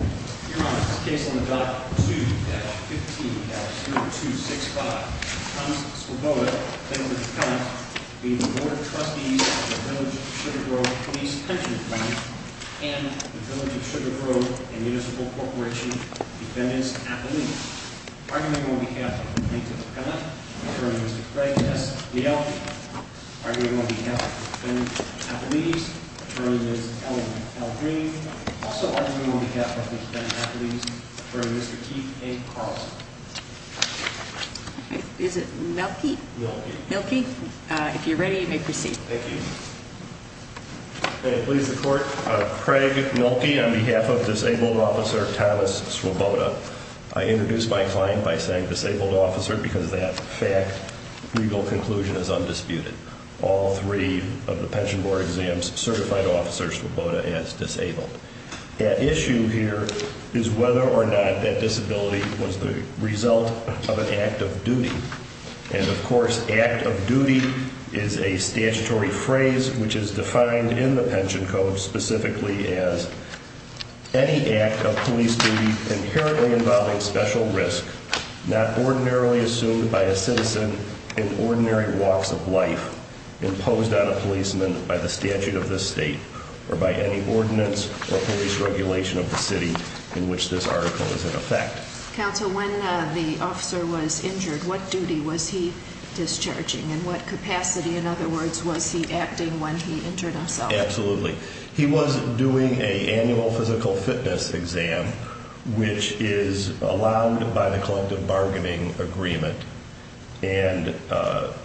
2-15-0265 Thomas Swoboda v. Board of Trustees Village of Sugar Grove Police Pension Fund and the Village of Sugar Grove and Municipal Corporation Defendants' Appellees Argument on behalf of Plaintiff O'Connor, Attorney Mr. Craig S. Leal Argument on behalf of Defendants' Appellees, Attorney Ms. Ellen L. Green Also arguing on behalf of the Defendants' Appellees, Attorney Mr. Keith A. Carlson Is it Mielke? Mielke. Mielke? If you're ready, you may proceed. Thank you. May it please the Court, Craig Mielke on behalf of Disabled Officer Thomas Swoboda. I introduce my client by saying Disabled Officer because that fact, legal conclusion is undisputed. All three of the Pension Board exams certified Officer Swoboda as disabled. The issue here is whether or not that disability was the result of an act of duty. And of course, act of duty is a statutory phrase which is defined in the Pension Code specifically as any act of police duty inherently involving special risk, not ordinarily assumed by a citizen in ordinary walks of life imposed on a policeman by the statute of this state or by any ordinance or police regulation of the city in which this article is in effect. Counsel, when the officer was injured, what duty was he discharging? And what capacity, in other words, was he acting when he injured himself? Absolutely. He was doing a annual physical fitness exam, which is allowed by the collective bargaining agreement and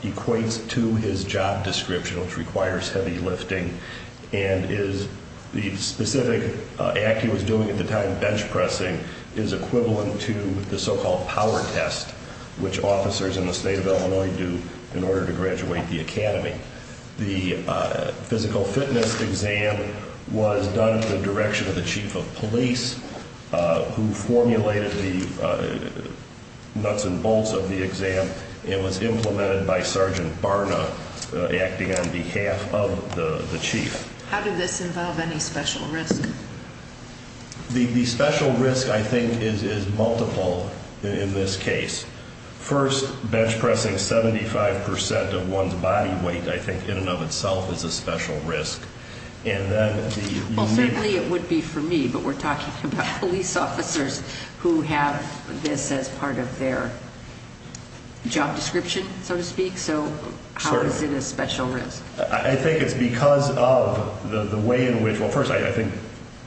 equates to his job description, which requires heavy lifting, and is the specific act he was doing at the time, bench pressing, is equivalent to the so-called power test, which officers in the state of Illinois do in order to graduate the academy. The physical fitness exam was done in the direction of the chief of police, who formulated the nuts and bolts of the exam and was implemented by Sergeant Barna, acting on behalf of the chief. How did this involve any special risk? The special risk, I think, is multiple in this case. First, bench pressing 75% of one's body weight, I think, in and of itself is a special risk. Well, certainly it would be for me, but we're talking about police officers who have this as part of their job description, so to speak. So how is it a special risk? I think it's because of the way in which, well, first, I think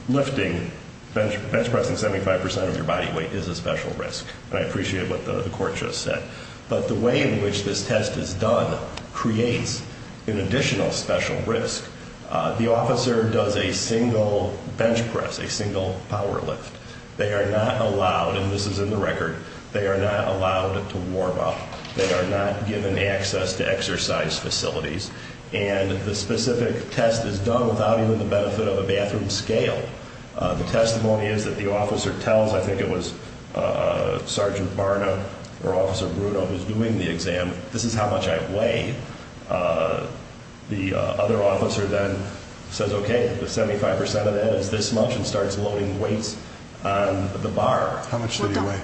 lifting, bench pressing 75% of your body weight is a special risk. And I appreciate what the court just said. But the way in which this test is done creates an additional special risk. The officer does a single bench press, a single power lift. They are not allowed, and this is in the record, they are not allowed to warm up. They are not given access to exercise facilities. And the specific test is done without even the benefit of a bathroom scale. The testimony is that the officer tells, I think it was Sergeant Barna or Officer Bruno who's doing the exam, this is how much I weigh. The other officer then says, okay, the 75% of that is this much and starts loading weights on the bar. How much did he weigh?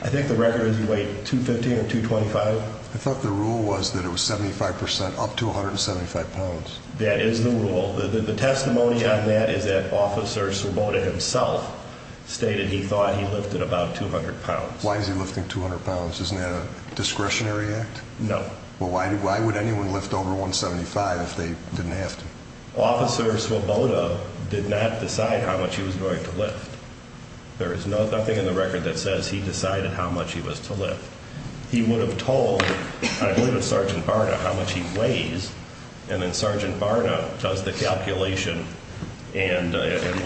I think the record is he weighed 215 or 225. I thought the rule was that it was 75% up to 175 pounds. That is the rule. The testimony on that is that Officer Svoboda himself stated he thought he lifted about 200 pounds. Why is he lifting 200 pounds? Isn't that a discretionary act? No. Well, why would anyone lift over 175 if they didn't have to? Officer Svoboda did not decide how much he was going to lift. There is nothing in the record that says he decided how much he was to lift. He would have told, I believe it's Sergeant Barna, how much he weighs, and then Sergeant Barna does the calculation and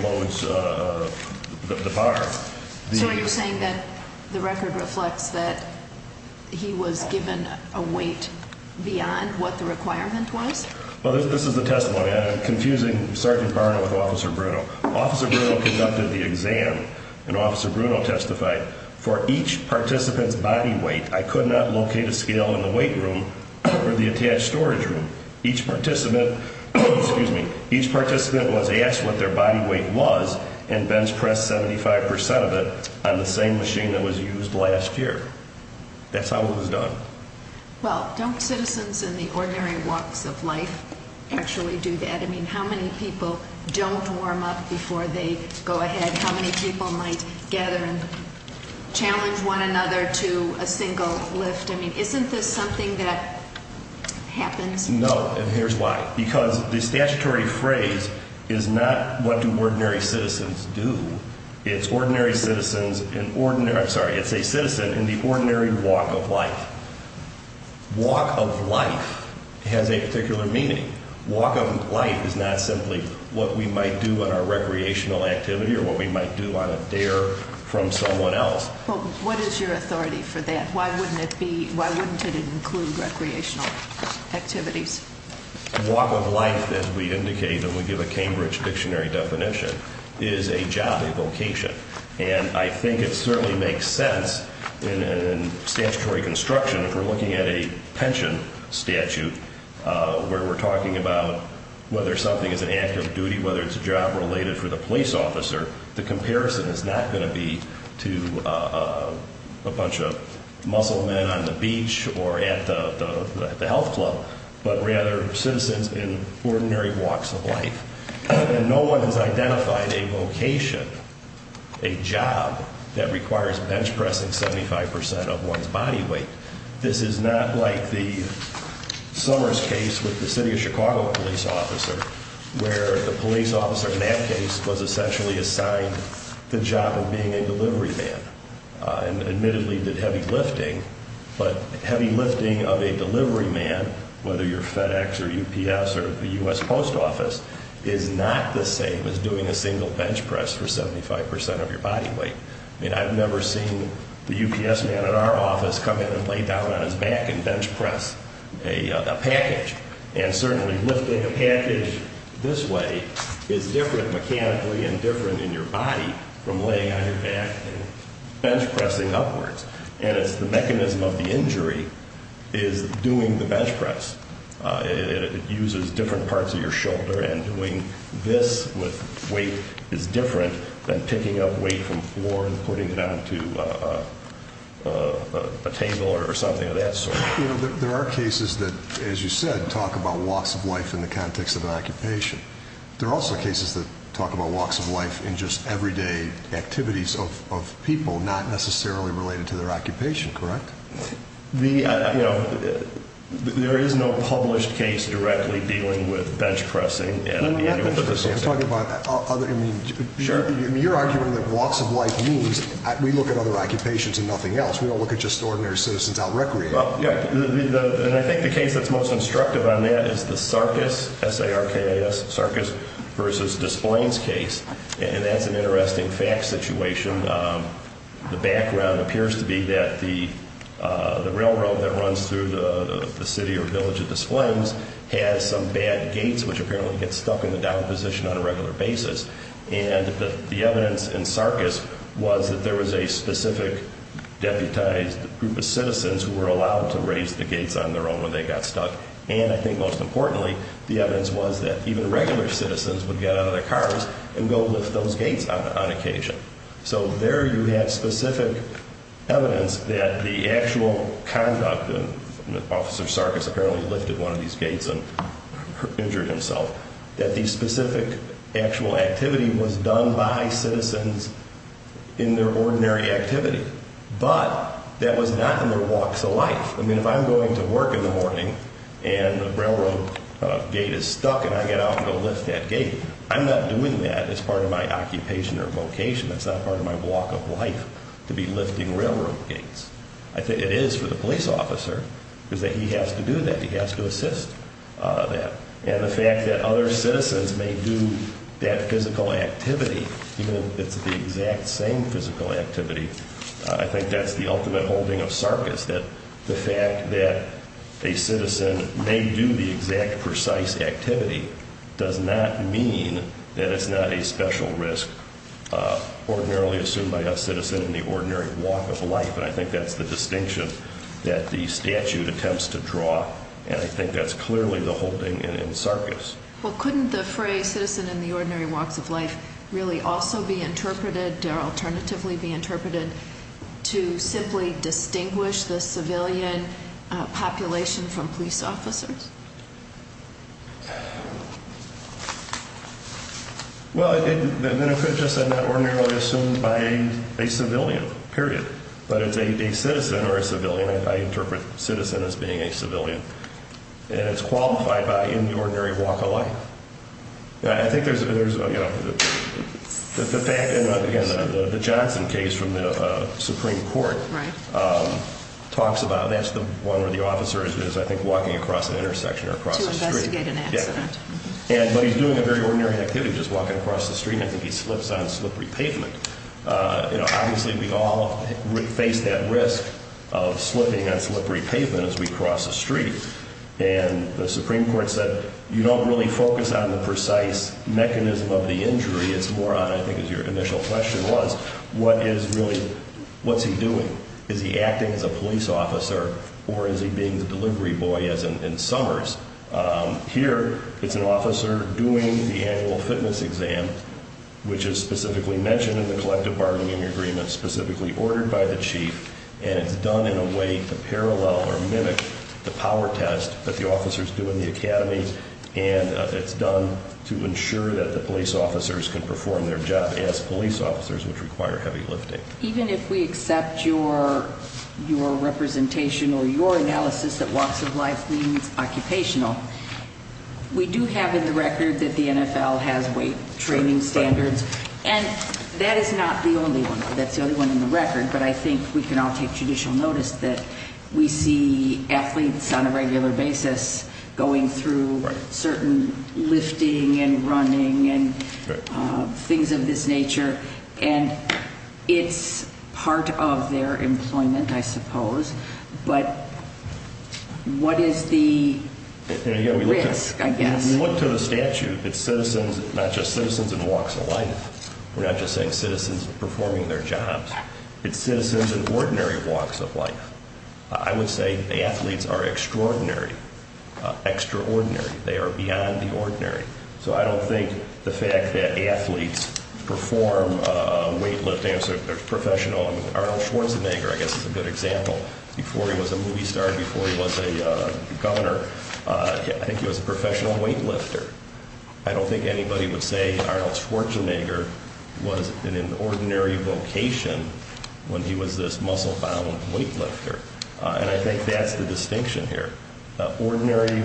loads the bar. So are you saying that the record reflects that he was given a weight beyond what the requirement was? Well, this is the testimony. I'm confusing Sergeant Barna with Officer Bruno. Officer Bruno conducted the exam, and Officer Bruno testified. For each participant's body weight, I could not locate a scale in the weight room or the attached storage room. Each participant was asked what their body weight was and bench pressed 75% of it on the same machine that was used last year. That's how it was done. Well, don't citizens in the ordinary walks of life actually do that? I mean, how many people don't warm up before they go ahead? How many people might gather and challenge one another to a single lift? I mean, isn't this something that happens? No, and here's why. Because the statutory phrase is not what do ordinary citizens do. It's ordinary citizens in ordinary – I'm sorry, it's a citizen in the ordinary walk of life. Walk of life has a particular meaning. Walk of life is not simply what we might do on our recreational activity or what we might do on a dare from someone else. Well, what is your authority for that? Why wouldn't it include recreational activities? Walk of life, as we indicate and we give a Cambridge Dictionary definition, is a job, a vocation. And I think it certainly makes sense in statutory construction. If we're looking at a pension statute where we're talking about whether something is an active duty, whether it's a job related for the police officer, the comparison is not going to be to a bunch of muscle men on the beach or at the health club, but rather citizens in ordinary walks of life. And no one has identified a vocation, a job, that requires bench pressing 75% of one's body weight. This is not like the Summers case with the city of Chicago police officer, where the police officer in that case was essentially assigned the job of being a delivery man and admittedly did heavy lifting, but heavy lifting of a delivery man, whether you're FedEx or UPS or the U.S. Post Office, is not the same as doing a single bench press for 75% of your body weight. I mean, I've never seen the UPS man at our office come in and lay down on his back and bench press a package. And certainly lifting a package this way is different mechanically and different in your body from laying on your back and bench pressing upwards. And it's the mechanism of the injury is doing the bench press. It uses different parts of your shoulder, and doing this with weight is different than picking up weight from the floor and putting it onto a table or something of that sort. There are cases that, as you said, talk about walks of life in the context of an occupation. There are also cases that talk about walks of life in just everyday activities of people, not necessarily related to their occupation, correct? There is no published case directly dealing with bench pressing. I'm talking about other, I mean, you're arguing that walks of life means we look at other occupations and nothing else. We don't look at just ordinary citizens out recreating. Well, yeah, and I think the case that's most instructive on that is the Sarkis, S-A-R-K-I-S, Sarkis v. Desplaines case. And that's an interesting fact situation. The background appears to be that the railroad that runs through the city or village of Desplaines has some bad gates which apparently get stuck in the down position on a regular basis. And the evidence in Sarkis was that there was a specific deputized group of citizens who were allowed to raise the gates on their own when they got stuck. And I think most importantly, the evidence was that even regular citizens would get out of their cars and go lift those gates on occasion. So there you have specific evidence that the actual conduct, and Officer Sarkis apparently lifted one of these gates and injured himself, that the specific actual activity was done by citizens in their ordinary activity. But that was not in their walks of life. I mean, if I'm going to work in the morning and the railroad gate is stuck and I get out and go lift that gate, I'm not doing that as part of my occupation or vocation. That's not part of my walk of life to be lifting railroad gates. I think it is for the police officer is that he has to do that. He has to assist that. And the fact that other citizens may do that physical activity, even if it's the exact same physical activity, I think that's the ultimate holding of Sarkis, that the fact that a citizen may do the exact precise activity does not mean that it's not a special risk ordinarily assumed by a citizen in the ordinary walk of life. And I think that's the distinction that the statute attempts to draw. And I think that's clearly the holding in Sarkis. Well, couldn't the phrase citizen in the ordinary walks of life really also be interpreted or alternatively be interpreted to simply distinguish the civilian population from police officers? Well, then it could just end up ordinarily assumed by a civilian, period. But it's a citizen or a civilian. I interpret citizen as being a civilian. And it's qualified by in the ordinary walk of life. I think there's, you know, the fact, again, the Johnson case from the Supreme Court talks about that's the one where the officer is, I think, walking across an intersection or across the street. To investigate an accident. Yeah. But he's doing a very ordinary activity, just walking across the street. I think he slips on slippery pavement. You know, obviously we all face that risk of slipping on slippery pavement as we cross the street. And the Supreme Court said you don't really focus on the precise mechanism of the injury. It's more on, I think, as your initial question was, what is really, what's he doing? Is he acting as a police officer or is he being the delivery boy, as in Summers? Here, it's an officer doing the annual fitness exam, which is specifically mentioned in the collective bargaining agreement, specifically ordered by the chief, and it's done in a way to parallel or mimic the power test that the officers do in the academy. And it's done to ensure that the police officers can perform their job as police officers, which require heavy lifting. Even if we accept your representation or your analysis that walks of life means occupational, we do have in the record that the NFL has weight training standards. And that is not the only one. That's the only one in the record. But I think we can all take judicial notice that we see athletes on a regular basis going through certain lifting and running and things of this nature. And it's part of their employment, I suppose. But what is the risk, I guess? If you look to the statute, it's citizens, not just citizens in walks of life. We're not just saying citizens performing their jobs. It's citizens in ordinary walks of life. I would say the athletes are extraordinary, extraordinary. They are beyond the ordinary. So I don't think the fact that athletes perform weight lifting as a professional. Arnold Schwarzenegger, I guess, is a good example. Before he was a movie star, before he was a governor, I think he was a professional weight lifter. I don't think anybody would say Arnold Schwarzenegger was in an ordinary vocation when he was this muscle-bound weight lifter. And I think that's the distinction here. Ordinary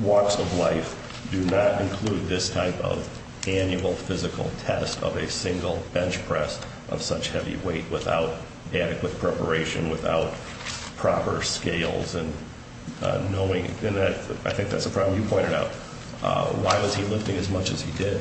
walks of life do not include this type of annual physical test of a single bench press of such heavy weight without adequate preparation, without proper scales and knowing. And I think that's a problem you pointed out. Why was he lifting as much as he did?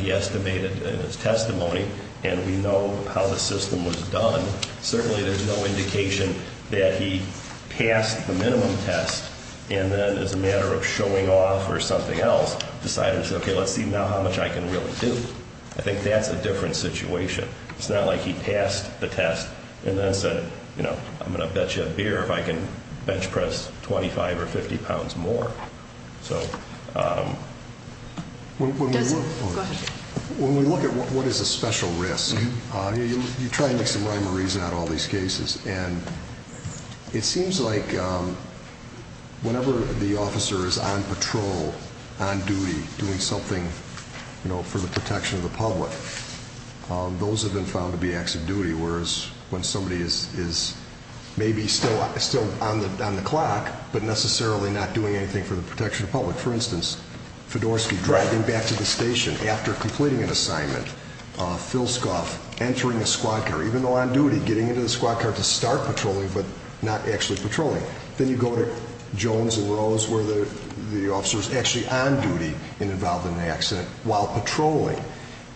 He estimated in his testimony, and we know how the system was done. Certainly there's no indication that he passed the minimum test and then as a matter of showing off or something else decided, okay, let's see now how much I can really do. I think that's a different situation. It's not like he passed the test and then said, you know, I'm going to bet you a beer if I can bench press 25 or 50 pounds more. When we look at what is a special risk, you try to make some rhyme or reason out of all these cases. And it seems like whenever the officer is on patrol, on duty, doing something, you know, for the protection of the public, those have been found to be acts of duty. When somebody is maybe still on the clock, but necessarily not doing anything for the protection of the public. For instance, Fedorsky driving back to the station after completing an assignment. Phil Scuff entering a squad car, even though on duty, getting into the squad car to start patrolling, but not actually patrolling. Then you go to Jones and Rose where the officer is actually on duty and involved in an accident while patrolling.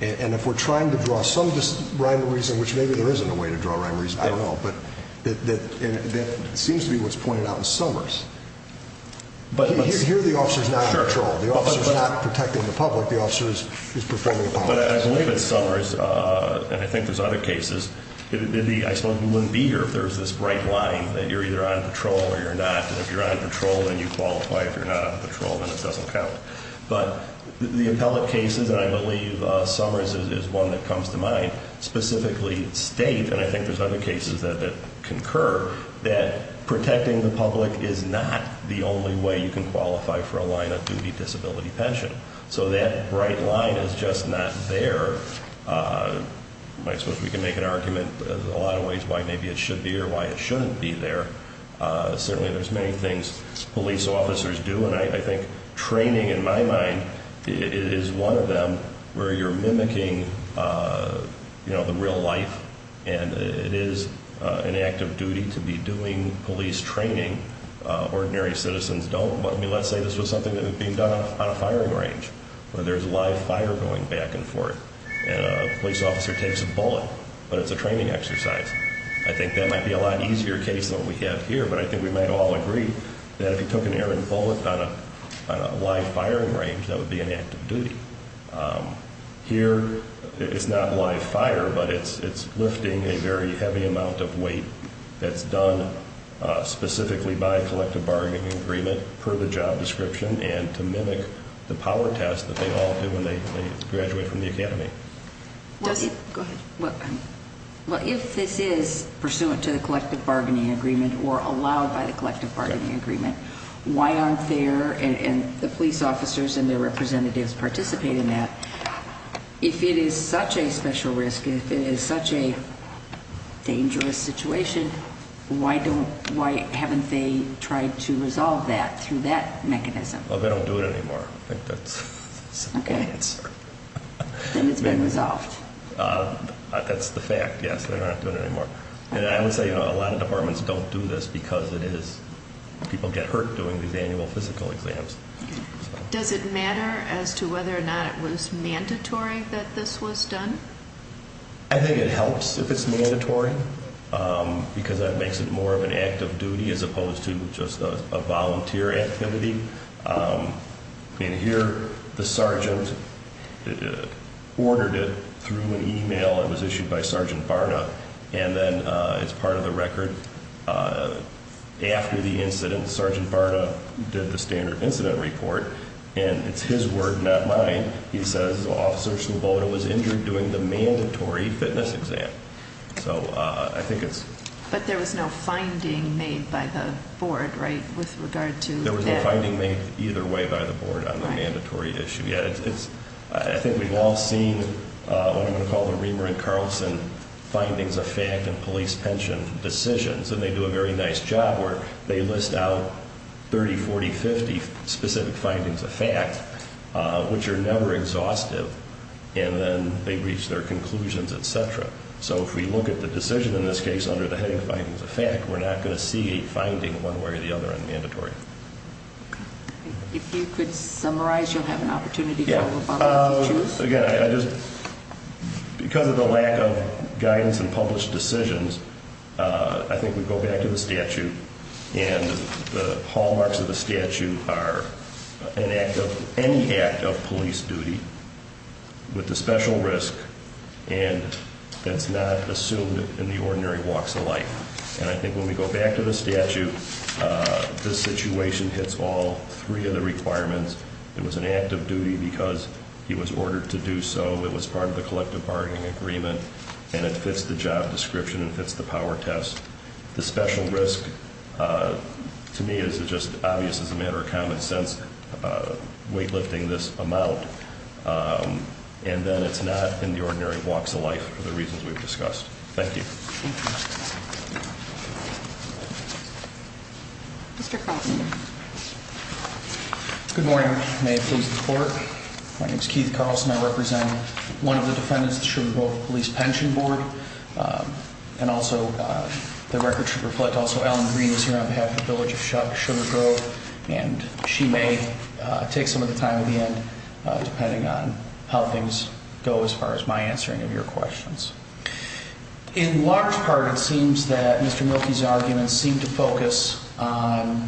And if we're trying to draw some rhyme or reason, which maybe there isn't a way to draw rhyme or reason, I don't know. But that seems to be what's pointed out in Summers. Here the officer is not on patrol. The officer is not protecting the public. The officer is performing a policy. But I believe in Summers, and I think there's other cases, I suppose you wouldn't be here if there was this bright line that you're either on patrol or you're not. And if you're on patrol, then you qualify. If you're not on patrol, then it doesn't count. But the appellate cases, and I believe Summers is one that comes to mind, specifically state, and I think there's other cases that concur, that protecting the public is not the only way you can qualify for a line of duty disability pension. So that bright line is just not there. I suppose we can make an argument a lot of ways why maybe it should be or why it shouldn't be there. Certainly there's many things police officers do. And I think training, in my mind, is one of them where you're mimicking, you know, the real life. And it is an active duty to be doing police training. Ordinary citizens don't. But, I mean, let's say this was something that was being done on a firing range where there's live fire going back and forth. And a police officer takes a bullet, but it's a training exercise. I think that might be a lot easier case than what we have here. But I think we might all agree that if he took an arrow and pulled it on a live firing range, that would be an active duty. Here it's not live fire, but it's lifting a very heavy amount of weight that's done specifically by collective bargaining agreement per the job description and to mimic the power test that they all do when they graduate from the academy. Go ahead. Well, if this is pursuant to the collective bargaining agreement or allowed by the collective bargaining agreement, why aren't there the police officers and their representatives participating in that? If it is such a special risk, if it is such a dangerous situation, why haven't they tried to resolve that through that mechanism? Well, they don't do it anymore. I think that's a good answer. And it's been resolved. That's the fact, yes. They're not doing it anymore. And I would say a lot of departments don't do this because people get hurt doing these annual physical exams. Does it matter as to whether or not it was mandatory that this was done? I think it helps if it's mandatory because that makes it more of an active duty as opposed to just a volunteer activity. And here the sergeant ordered it through an e-mail. It was issued by Sergeant Barna. And then as part of the record, after the incident, Sergeant Barna did the standard incident report. And it's his word, not mine. He says, Officer Sloboda was injured during the mandatory fitness exam. So I think it's... But there was no finding made by the board, right, with regard to that? There was no finding made either way by the board on the mandatory issue. Yeah, I think we've all seen what I'm going to call the Riemer and Carlson findings of fact in police pension decisions. And they do a very nice job where they list out 30, 40, 50 specific findings of fact, which are never exhaustive. And then they reach their conclusions, et cetera. So if we look at the decision in this case under the heading findings of fact, we're not going to see a finding one way or the other on mandatory. If you could summarize, you'll have an opportunity for Obama to choose. Again, I just... Because of the lack of guidance and published decisions, I think we go back to the statute. And the hallmarks of the statute are any act of police duty with the special risk and that's not assumed in the ordinary walks of life. And I think when we go back to the statute, this situation hits all three of the requirements. It was an act of duty because he was ordered to do so. It was part of the collective bargaining agreement. And it fits the job description. It fits the power test. The special risk to me is just obvious as a matter of common sense weightlifting this amount. And then it's not in the ordinary walks of life for the reasons we've discussed. Thank you. Mr. Carlson. Good morning. May it please the court. My name is Keith Carlson. I represent one of the defendants of the Sugar Grove Police Pension Board. And also the record should reflect also Alan Green is here on behalf of the village of Sugar Grove. And she may take some of the time at the end depending on how things go as far as my answering of your questions. In large part it seems that Mr. Milkey's arguments seem to focus on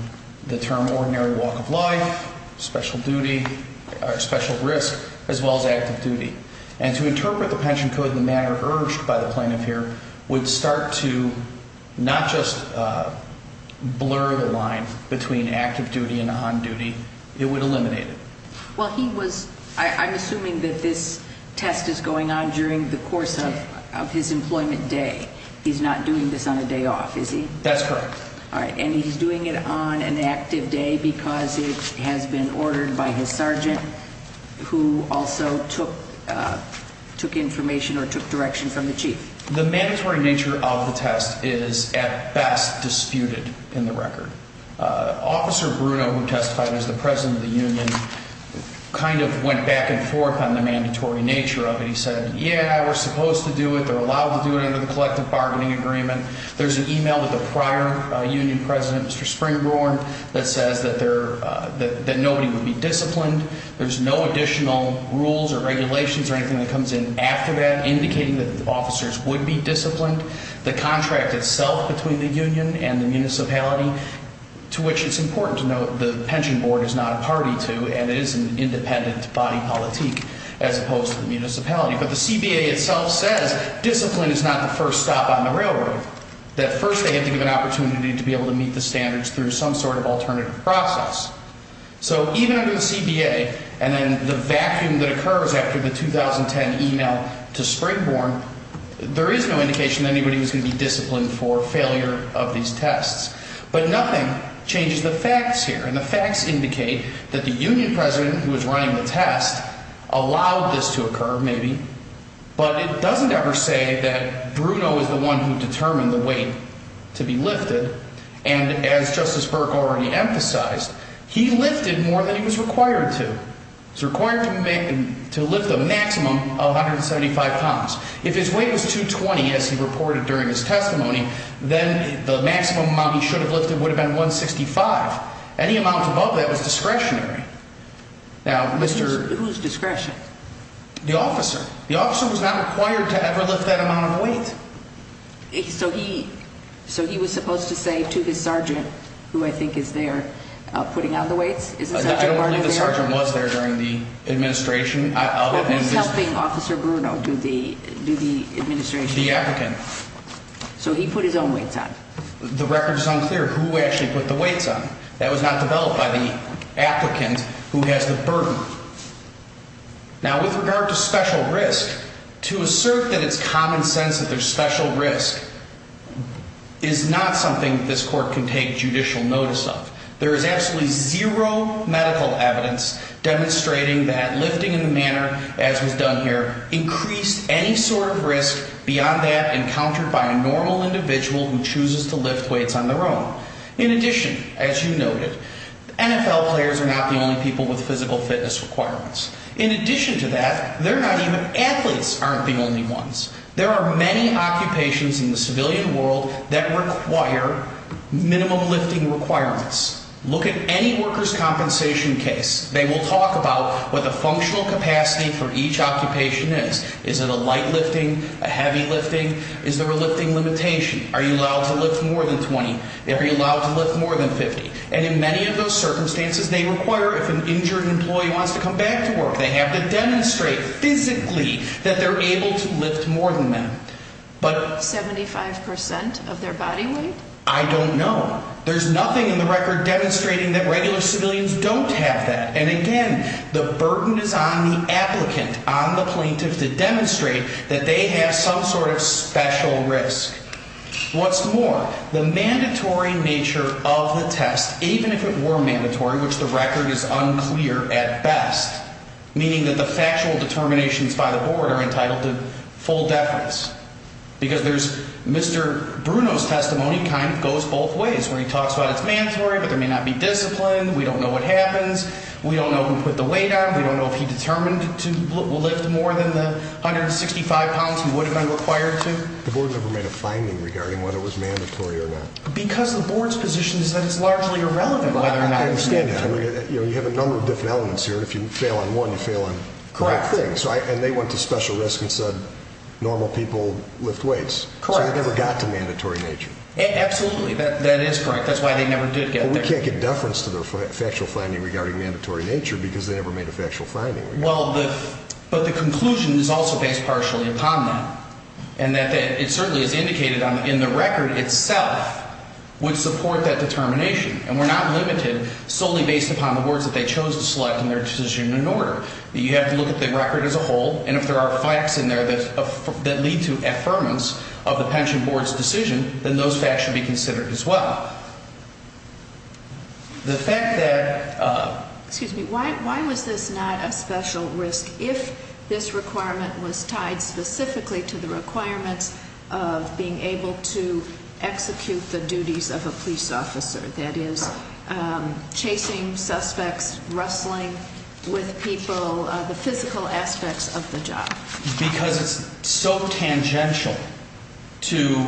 the term ordinary walk of life, special duty, or special risk, as well as active duty. And to interpret the pension code in the manner urged by the plaintiff here would start to not just blur the line between active duty and on duty. It would eliminate it. Well, he was, I'm assuming that this test is going on during the course of his employment day. He's not doing this on a day off, is he? That's correct. All right. And he's doing it on an active day because it has been ordered by his sergeant who also took information or took direction from the chief. The mandatory nature of the test is at best disputed in the record. Officer Bruno, who testified as the president of the union, kind of went back and forth on the mandatory nature of it. He said, yeah, we're supposed to do it. They're allowed to do it under the collective bargaining agreement. There's an email with the prior union president, Mr. Springborn, that says that nobody would be disciplined. There's no additional rules or regulations or anything that comes in after that indicating that the officers would be disciplined. The contract itself between the union and the municipality, to which it's important to note the pension board is not a party to, and it is an independent body politic as opposed to the municipality. But the CBA itself says discipline is not the first stop on the railroad, that first they have to give an opportunity to be able to meet the standards through some sort of alternative process. So even under the CBA and then the vacuum that occurs after the 2010 email to Springborn, there is no indication that anybody was going to be disciplined for failure of these tests. But nothing changes the facts here, and the facts indicate that the union president who was running the test allowed this to occur, maybe. But it doesn't ever say that Bruno is the one who determined the weight to be lifted. And as Justice Burke already emphasized, he lifted more than he was required to. He was required to lift a maximum of 175 pounds. If his weight was 220, as he reported during his testimony, then the maximum amount he should have lifted would have been 165. Any amount above that was discretionary. Now, Mr. Whose discretion? The officer. The officer was not required to ever lift that amount of weight. So he was supposed to say to his sergeant, who I think is there, putting on the weights. I don't believe the sergeant was there during the administration. He was helping Officer Bruno do the administration. The applicant. So he put his own weights on. The record is unclear who actually put the weights on. That was not developed by the applicant who has the burden. Now, with regard to special risk, to assert that it's common sense that there's special risk is not something this court can take judicial notice of. There is absolutely zero medical evidence demonstrating that lifting in the manner as was done here increased any sort of risk beyond that encountered by a normal individual who chooses to lift weights on their own. In addition, as you noted, NFL players are not the only people with physical fitness requirements. In addition to that, athletes aren't the only ones. There are many occupations in the civilian world that require minimum lifting requirements. Look at any workers' compensation case. They will talk about what the functional capacity for each occupation is. Is it a light lifting? A heavy lifting? Is there a lifting limitation? Are you allowed to lift more than 20? Are you allowed to lift more than 50? And in many of those circumstances, they require if an injured employee wants to come back to work, they have to demonstrate physically that they're able to lift more than that. But 75% of their body weight? I don't know. There's nothing in the record demonstrating that regular civilians don't have that. And again, the burden is on the applicant, on the plaintiff to demonstrate that they have some sort of special risk. What's more, the mandatory nature of the test, even if it were mandatory, which the record is unclear at best, meaning that the factual determinations by the board are entitled to full deference. Because Mr. Bruno's testimony kind of goes both ways, where he talks about it's mandatory, but there may not be discipline. We don't know what happens. We don't know who put the weight on. We don't know if he determined to lift more than the 165 pounds he would have been required to. The board never made a finding regarding whether it was mandatory or not. Because the board's position is that it's largely irrelevant whether or not it's mandatory. I understand that. You have a number of different elements here. If you fail on one, you fail on the whole thing. Correct. And they went to special risk and said normal people lift weights. Correct. So they never got to mandatory nature. Absolutely. That is correct. That's why they never did get there. But we can't get deference to their factual finding regarding mandatory nature because they never made a factual finding. But the conclusion is also based partially upon that. And it certainly is indicated in the record itself would support that determination. And we're not limited solely based upon the words that they chose to select in their decision and order. You have to look at the record as a whole. And if there are facts in there that lead to affirmance of the pension board's decision, then those facts should be considered as well. The fact that... Excuse me. Why was this not a special risk if this requirement was tied specifically to the requirements of being able to execute the duties of a police officer? That is, chasing suspects, wrestling with people, the physical aspects of the job. Because it's so tangential to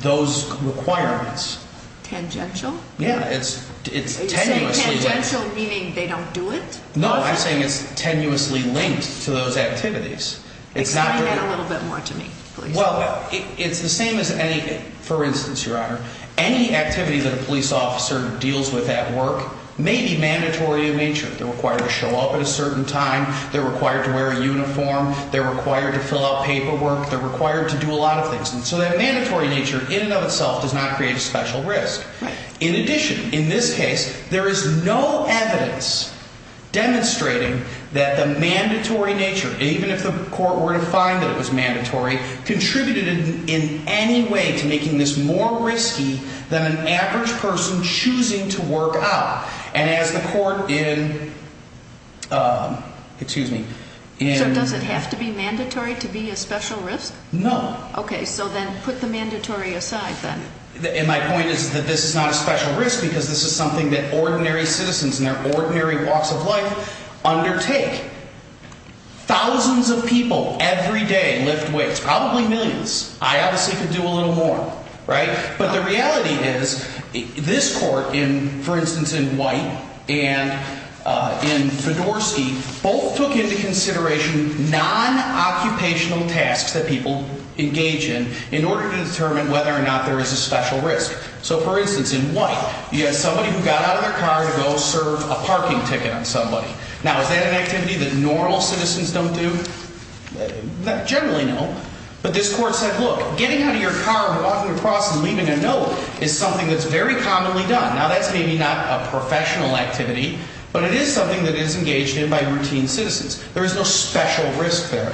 those requirements. Tangential? Yeah, it's tenuously... Are you saying tangential meaning they don't do it? No, I'm saying it's tenuously linked to those activities. Explain that a little bit more to me, please. Well, it's the same as any... For instance, Your Honor, any activity that a police officer deals with at work may be mandatory in nature. They're required to show up at a certain time. They're required to wear a uniform. They're required to fill out paperwork. They're required to do a lot of things. And so that mandatory nature in and of itself does not create a special risk. In addition, in this case, there is no evidence demonstrating that the mandatory nature, even if the court were to find that it was mandatory, contributed in any way to making this more risky than an average person choosing to work out. And as the court in... Excuse me. So does it have to be mandatory to be a special risk? No. Okay, so then put the mandatory aside, then. And my point is that this is not a special risk because this is something that ordinary citizens in their ordinary walks of life undertake. Thousands of people every day lift weights, probably millions. I obviously could do a little more, right? But the reality is this court, for instance, in White and in Fedorsky, both took into consideration non-occupational tasks that people engage in in order to determine whether or not there is a special risk. So, for instance, in White, you have somebody who got out of their car to go serve a parking ticket on somebody. Now, is that an activity that normal citizens don't do? Generally, no. But this court said, look, getting out of your car and walking across and leaving a note is something that's very commonly done. Now, that's maybe not a professional activity, but it is something that is engaged in by routine citizens. There is no special risk there.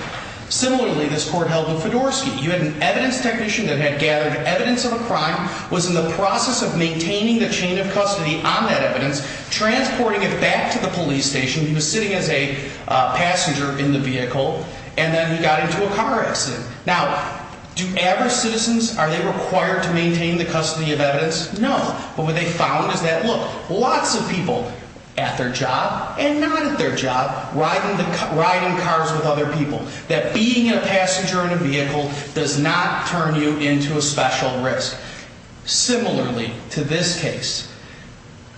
Similarly, this court held in Fedorsky. You had an evidence technician that had gathered evidence of a crime, was in the process of maintaining the chain of custody on that evidence, transporting it back to the police station. He was sitting as a passenger in the vehicle, and then he got into a car accident. Now, do average citizens, are they required to maintain the custody of evidence? No. But what they found is that, look, lots of people at their job and not at their job riding cars with other people. That being a passenger in a vehicle does not turn you into a special risk. Similarly to this case,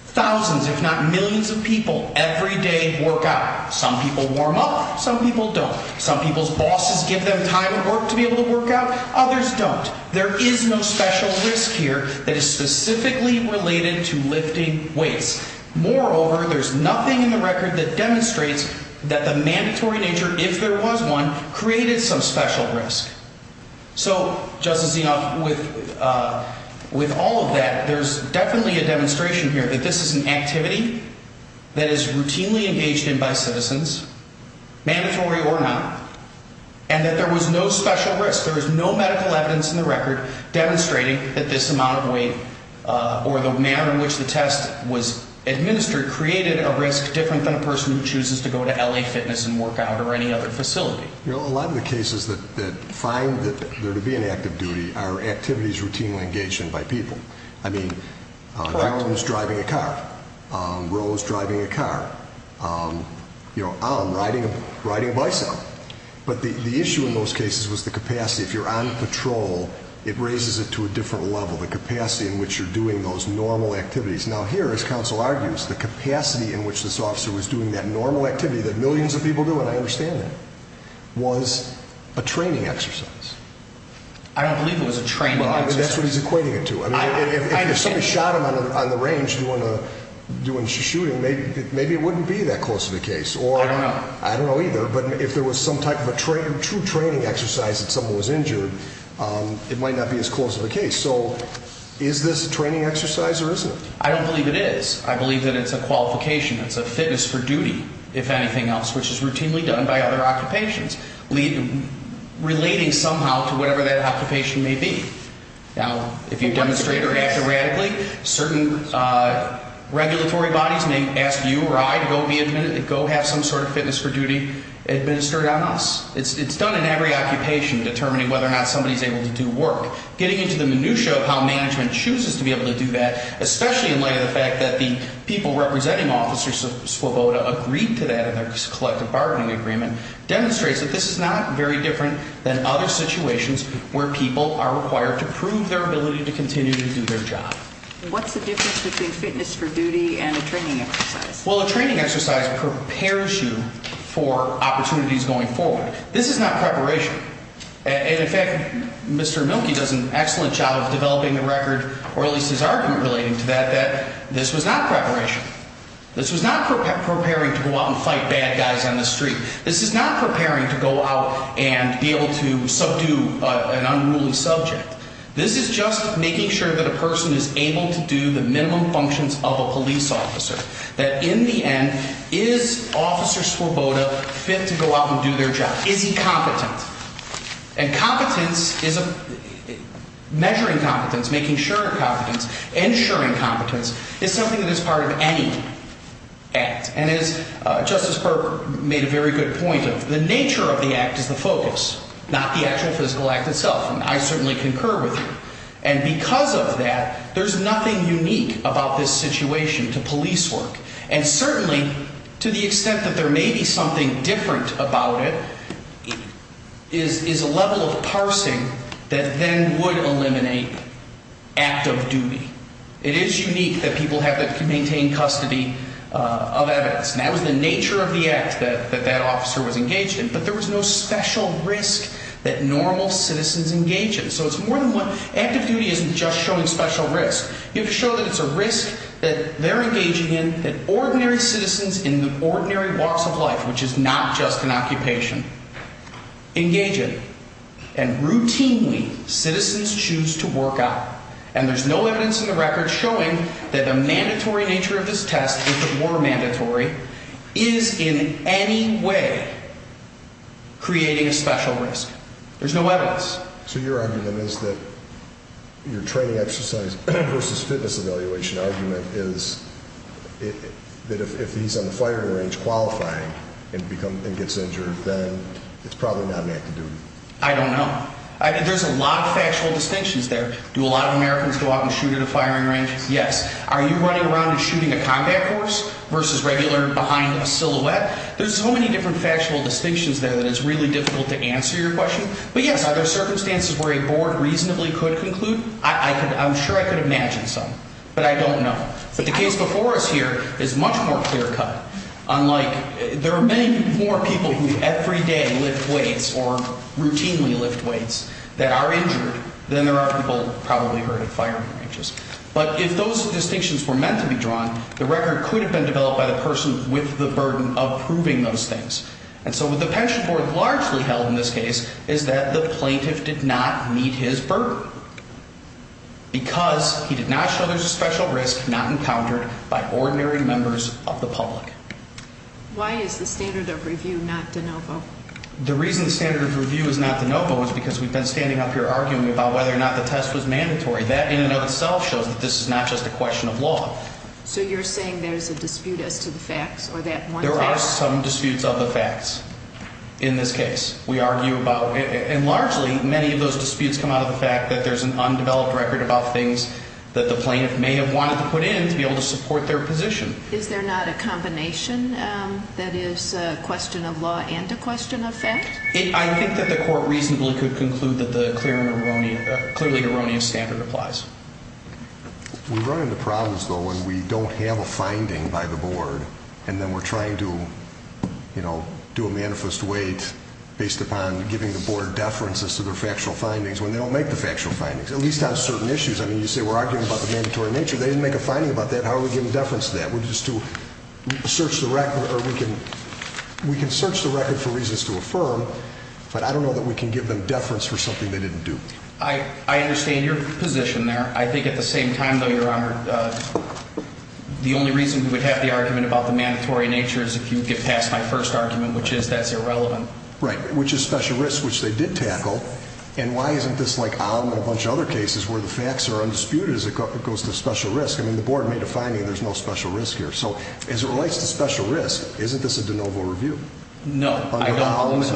thousands if not millions of people every day work out. Some people warm up. Some people don't. Some people's bosses give them time at work to be able to work out. Others don't. There is no special risk here that is specifically related to lifting weights. Moreover, there's nothing in the record that demonstrates that the mandatory nature, if there was one, created some special risk. So, Justice Enoff, with all of that, there's definitely a demonstration here that this is an activity that is routinely engaged in by citizens, mandatory or not, and that there was no special risk. There is no medical evidence in the record demonstrating that this amount of weight, or the manner in which the test was administered, created a risk different than a person who chooses to go to L.A. Fitness and work out or any other facility. A lot of the cases that find that there to be an active duty are activities routinely engaged in by people. I mean, an activist driving a car. Rose driving a car. Alan riding a bicep. But the issue in those cases was the capacity. If you're on patrol, it raises it to a different level, the capacity in which you're doing those normal activities. Now, here, as counsel argues, the capacity in which this officer was doing that normal activity that millions of people do, and I understand that, was a training exercise. I don't believe it was a training exercise. That's what he's equating it to. If somebody shot him on the range doing shooting, maybe it wouldn't be that close of a case. I don't know. I don't know either, but if there was some type of a true training exercise and someone was injured, it might not be as close of a case. So is this a training exercise or isn't it? I don't believe it is. I believe that it's a qualification. It's a fitness for duty, if anything else, which is routinely done by other occupations, relating somehow to whatever that occupation may be. Now, if you demonstrate or act erratically, certain regulatory bodies may ask you or I to go have some sort of fitness for duty administered on us. It's done in every occupation, determining whether or not somebody's able to do work. Getting into the minutiae of how management chooses to be able to do that, especially in light of the fact that the people representing Officer Svoboda agreed to that in their collective bargaining agreement, demonstrates that this is not very different than other situations where people are required to prove their ability to continue to do their job. What's the difference between fitness for duty and a training exercise? Well, a training exercise prepares you for opportunities going forward. This is not preparation. In fact, Mr. Mielke does an excellent job of developing a record, or at least his argument relating to that, that this was not preparation. This was not preparing to go out and fight bad guys on the street. This is not preparing to go out and be able to subdue an unruly subject. This is just making sure that a person is able to do the minimum functions of a police officer, that in the end, is Officer Svoboda fit to go out and do their job? Is he competent? And measuring competence, making sure of competence, ensuring competence is something that is part of any act. And as Justice Berger made a very good point of, the nature of the act is the focus, not the actual physical act itself. And I certainly concur with you. And because of that, there's nothing unique about this situation to police work. And certainly, to the extent that there may be something different about it, is a level of parsing that then would eliminate active duty. It is unique that people have to maintain custody of evidence. And that was the nature of the act that that officer was engaged in. But there was no special risk that normal citizens engage in. So it's more than one. Active duty isn't just showing special risk. You have to show that it's a risk that they're engaging in, that ordinary citizens in the ordinary walks of life, which is not just an occupation, engage in. And routinely, citizens choose to work out. And there's no evidence in the record showing that the mandatory nature of this test, if it were mandatory, is in any way creating a special risk. There's no evidence. So your argument is that your training exercise versus fitness evaluation argument is that if he's on the firing range qualifying and gets injured, then it's probably not an active duty. I don't know. There's a lot of factual distinctions there. Do a lot of Americans go out and shoot at a firing range? Yes. Are you running around and shooting a combat force versus regular behind a silhouette? There's so many different factual distinctions there that it's really difficult to answer your question. But, yes, are there circumstances where a board reasonably could conclude? I'm sure I could imagine some. But I don't know. But the case before us here is much more clear-cut. There are many more people who every day lift weights or routinely lift weights that are injured than there are people probably hurt at firing ranges. But if those distinctions were meant to be drawn, the record could have been developed by the person with the burden of proving those things. And so what the pension board largely held in this case is that the plaintiff did not meet his burden because he did not show there's a special risk not encountered by ordinary members of the public. Why is the standard of review not de novo? The reason the standard of review is not de novo is because we've been standing up here arguing about whether or not the test was mandatory. That in and of itself shows that this is not just a question of law. So you're saying there's a dispute as to the facts or that one fact? There are some disputes of the facts in this case. We argue about it. And largely, many of those disputes come out of the fact that there's an undeveloped record about things that the plaintiff may have wanted to put in to be able to support their position. Is there not a combination that is a question of law and a question of fact? I think that the court reasonably could conclude that the clearly erroneous standard applies. We run into problems, though, when we don't have a finding by the board and then we're trying to, you know, do a manifest wait based upon giving the board deferences to their factual findings when they don't make the factual findings, at least on certain issues. I mean, you say we're arguing about the mandatory nature. They didn't make a finding about that. How are we giving deference to that? We're just to search the record or we can search the record for reasons to affirm, but I don't know that we can give them deference for something they didn't do. I understand your position there. I think at the same time, though, Your Honor, the only reason we would have the argument about the mandatory nature is if you get past my first argument, which is that's irrelevant. Right. Which is special risk, which they did tackle. And why isn't this like Aum and a bunch of other cases where the facts are undisputed as it goes to special risk? I mean, the board made a finding. There's no special risk here. So as it relates to special risk, isn't this a de novo review? No.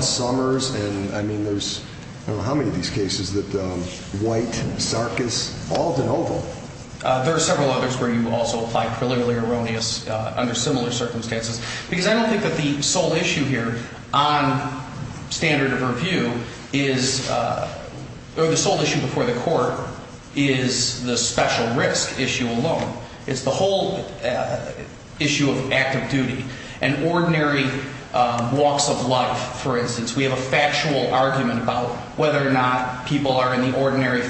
Summers. And I mean, there's how many of these cases that White, Sarkis, Alden, Oval. There are several others where you also apply preliminary erroneous under similar circumstances, because I don't think that the sole issue here on standard of review is the sole issue before the court is the special risk issue alone. It's the whole issue of active duty and ordinary walks of life. For instance, we have a factual argument about whether or not people are in the ordinary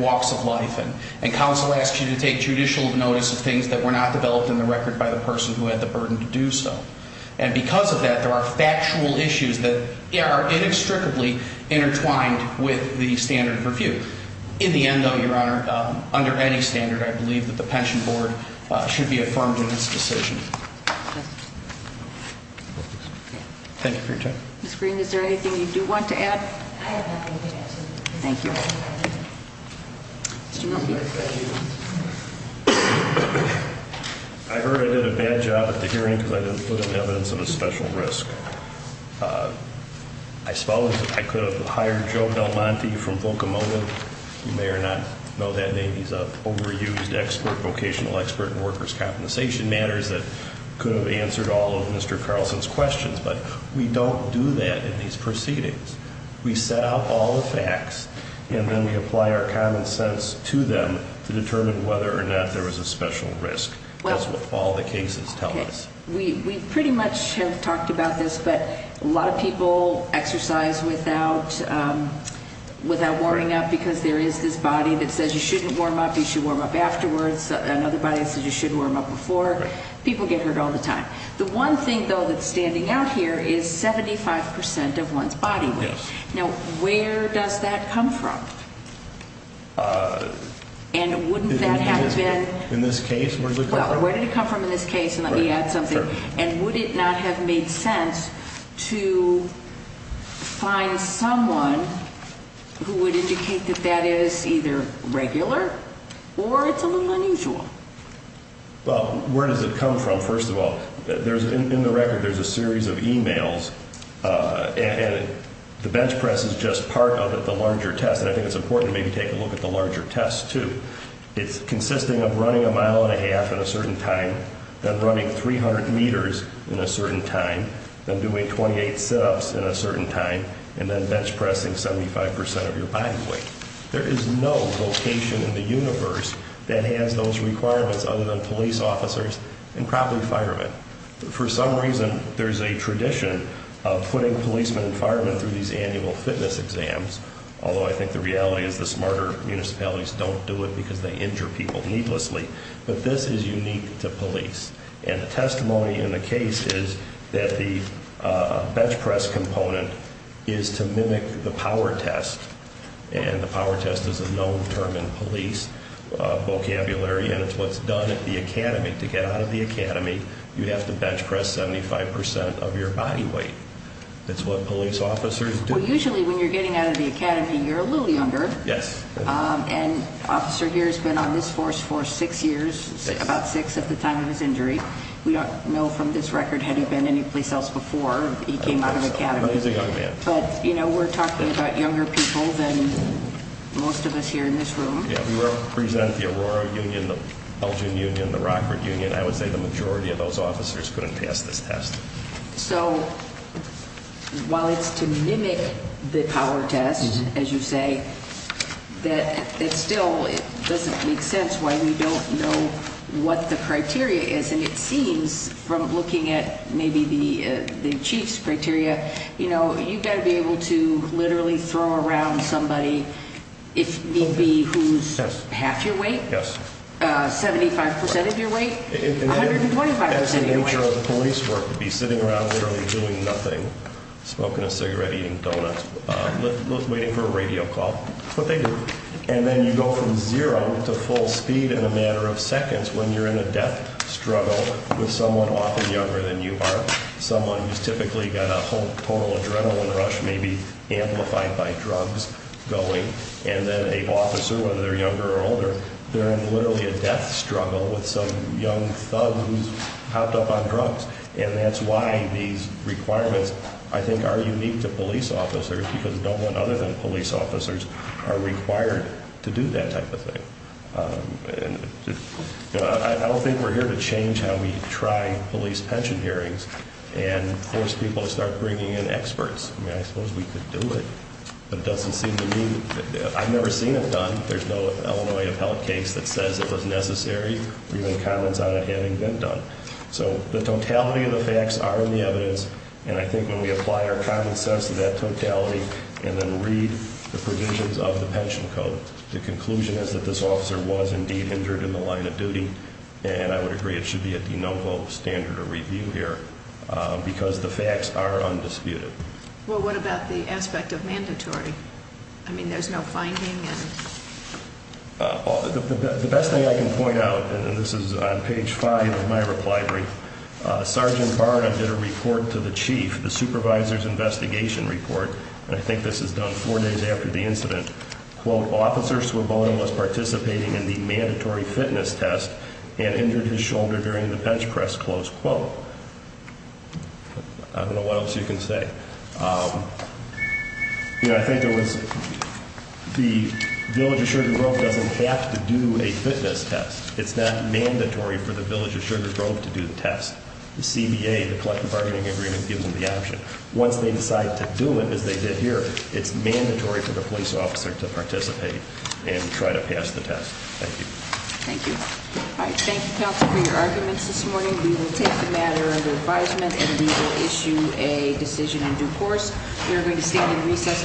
walks of life. And counsel asks you to take judicial notice of things that were not developed in the record by the person who had the burden to do so. And because of that, there are factual issues that are inextricably intertwined with the standard of review. In the end, though, your honor, under any standard, I believe that the pension board should be affirmed in this decision. Thank you for your time. Is there anything you do want to add? Thank you. I heard I did a bad job at the hearing because I didn't put in evidence of a special risk. I suppose I could have hired Joe Del Monte from Volcamona. You may or may not know that name. He's an overused expert, vocational expert in workers' compensation matters that could have answered all of Mr. Carlson's questions. But we don't do that in these proceedings. We set up all the facts, and then we apply our common sense to them to determine whether or not there was a special risk. That's what all the cases tell us. We pretty much have talked about this, but a lot of people exercise without warming up because there is this body that says you shouldn't warm up. You should warm up afterwards. Another body says you should warm up before. People get hurt all the time. The one thing, though, that's standing out here is 75 percent of one's body weight. Now, where does that come from? And wouldn't that have been— In this case, where did it come from? Let me determine this case and let me add something. And would it not have made sense to find someone who would indicate that that is either regular or it's a little unusual? Well, where does it come from, first of all? In the record, there's a series of e-mails, and the bench press is just part of it, the larger test. And I think it's important to maybe take a look at the larger test, too. It's consisting of running a mile and a half at a certain time, then running 300 meters in a certain time, then doing 28 sit-ups in a certain time, and then bench pressing 75 percent of your body weight. There is no location in the universe that has those requirements other than police officers and probably firemen. For some reason, there's a tradition of putting policemen and firemen through these annual fitness exams, although I think the reality is the smarter municipalities don't do it because they injure people needlessly. But this is unique to police. And the testimony in the case is that the bench press component is to mimic the power test. And the power test is a known term in police vocabulary, and it's what's done at the academy. To get out of the academy, you have to bench press 75 percent of your body weight. That's what police officers do. Well, usually when you're getting out of the academy, you're a little younger. Yes. And the officer here has been on this force for six years, about six at the time of his injury. We don't know from this record had he been anyplace else before he came out of the academy. But he's a young man. But, you know, we're talking about younger people than most of us here in this room. Yeah, we represent the Aurora Union, the Belgian Union, the Rockford Union. I would say the majority of those officers couldn't pass this test. So while it's to mimic the power test, as you say, it still doesn't make sense why we don't know what the criteria is. And it seems from looking at maybe the chief's criteria, you know, you've got to be able to literally throw around somebody if need be who's half your weight, 75 percent of your weight, 125 percent of your weight. The nature of police work would be sitting around literally doing nothing, smoking a cigarette, eating donuts, waiting for a radio call. That's what they do. And then you go from zero to full speed in a matter of seconds when you're in a death struggle with someone often younger than you are, someone who's typically got a total adrenaline rush maybe amplified by drugs going, and then an officer, whether they're younger or older, they're in literally a death struggle with some young thug who's hopped up on drugs. And that's why these requirements, I think, are unique to police officers, because no one other than police officers are required to do that type of thing. I don't think we're here to change how we try police pension hearings and force people to start bringing in experts. I suppose we could do it, but it doesn't seem to me. I've never seen it done. There's no Illinois appellate case that says it was necessary or even comments on it having been done. So the totality of the facts are in the evidence, and I think when we apply our common sense to that totality and then read the provisions of the pension code, the conclusion is that this officer was indeed injured in the line of duty, and I would agree it should be a de novo standard of review here because the facts are undisputed. Well, what about the aspect of mandatory? I mean, there's no finding. The best thing I can point out, and this is on page five of my reply brief, Sergeant Barnum did a report to the chief, the supervisor's investigation report, and I think this is done four days after the incident, quote, officers were both participating in the mandatory fitness test and injured his shoulder during the bench press, close quote. I don't know what else you can say. I think the Village of Sugar Grove doesn't have to do a fitness test. It's not mandatory for the Village of Sugar Grove to do the test. The CBA, the collective bargaining agreement, gives them the option. Once they decide to do it, as they did here, it's mandatory for the police officer to participate and try to pass the test. Thank you. Thank you. All right, thank you, counsel, for your arguments this morning. We will take the matter under advisement and we will issue a decision in due course. We are going to stand in recess.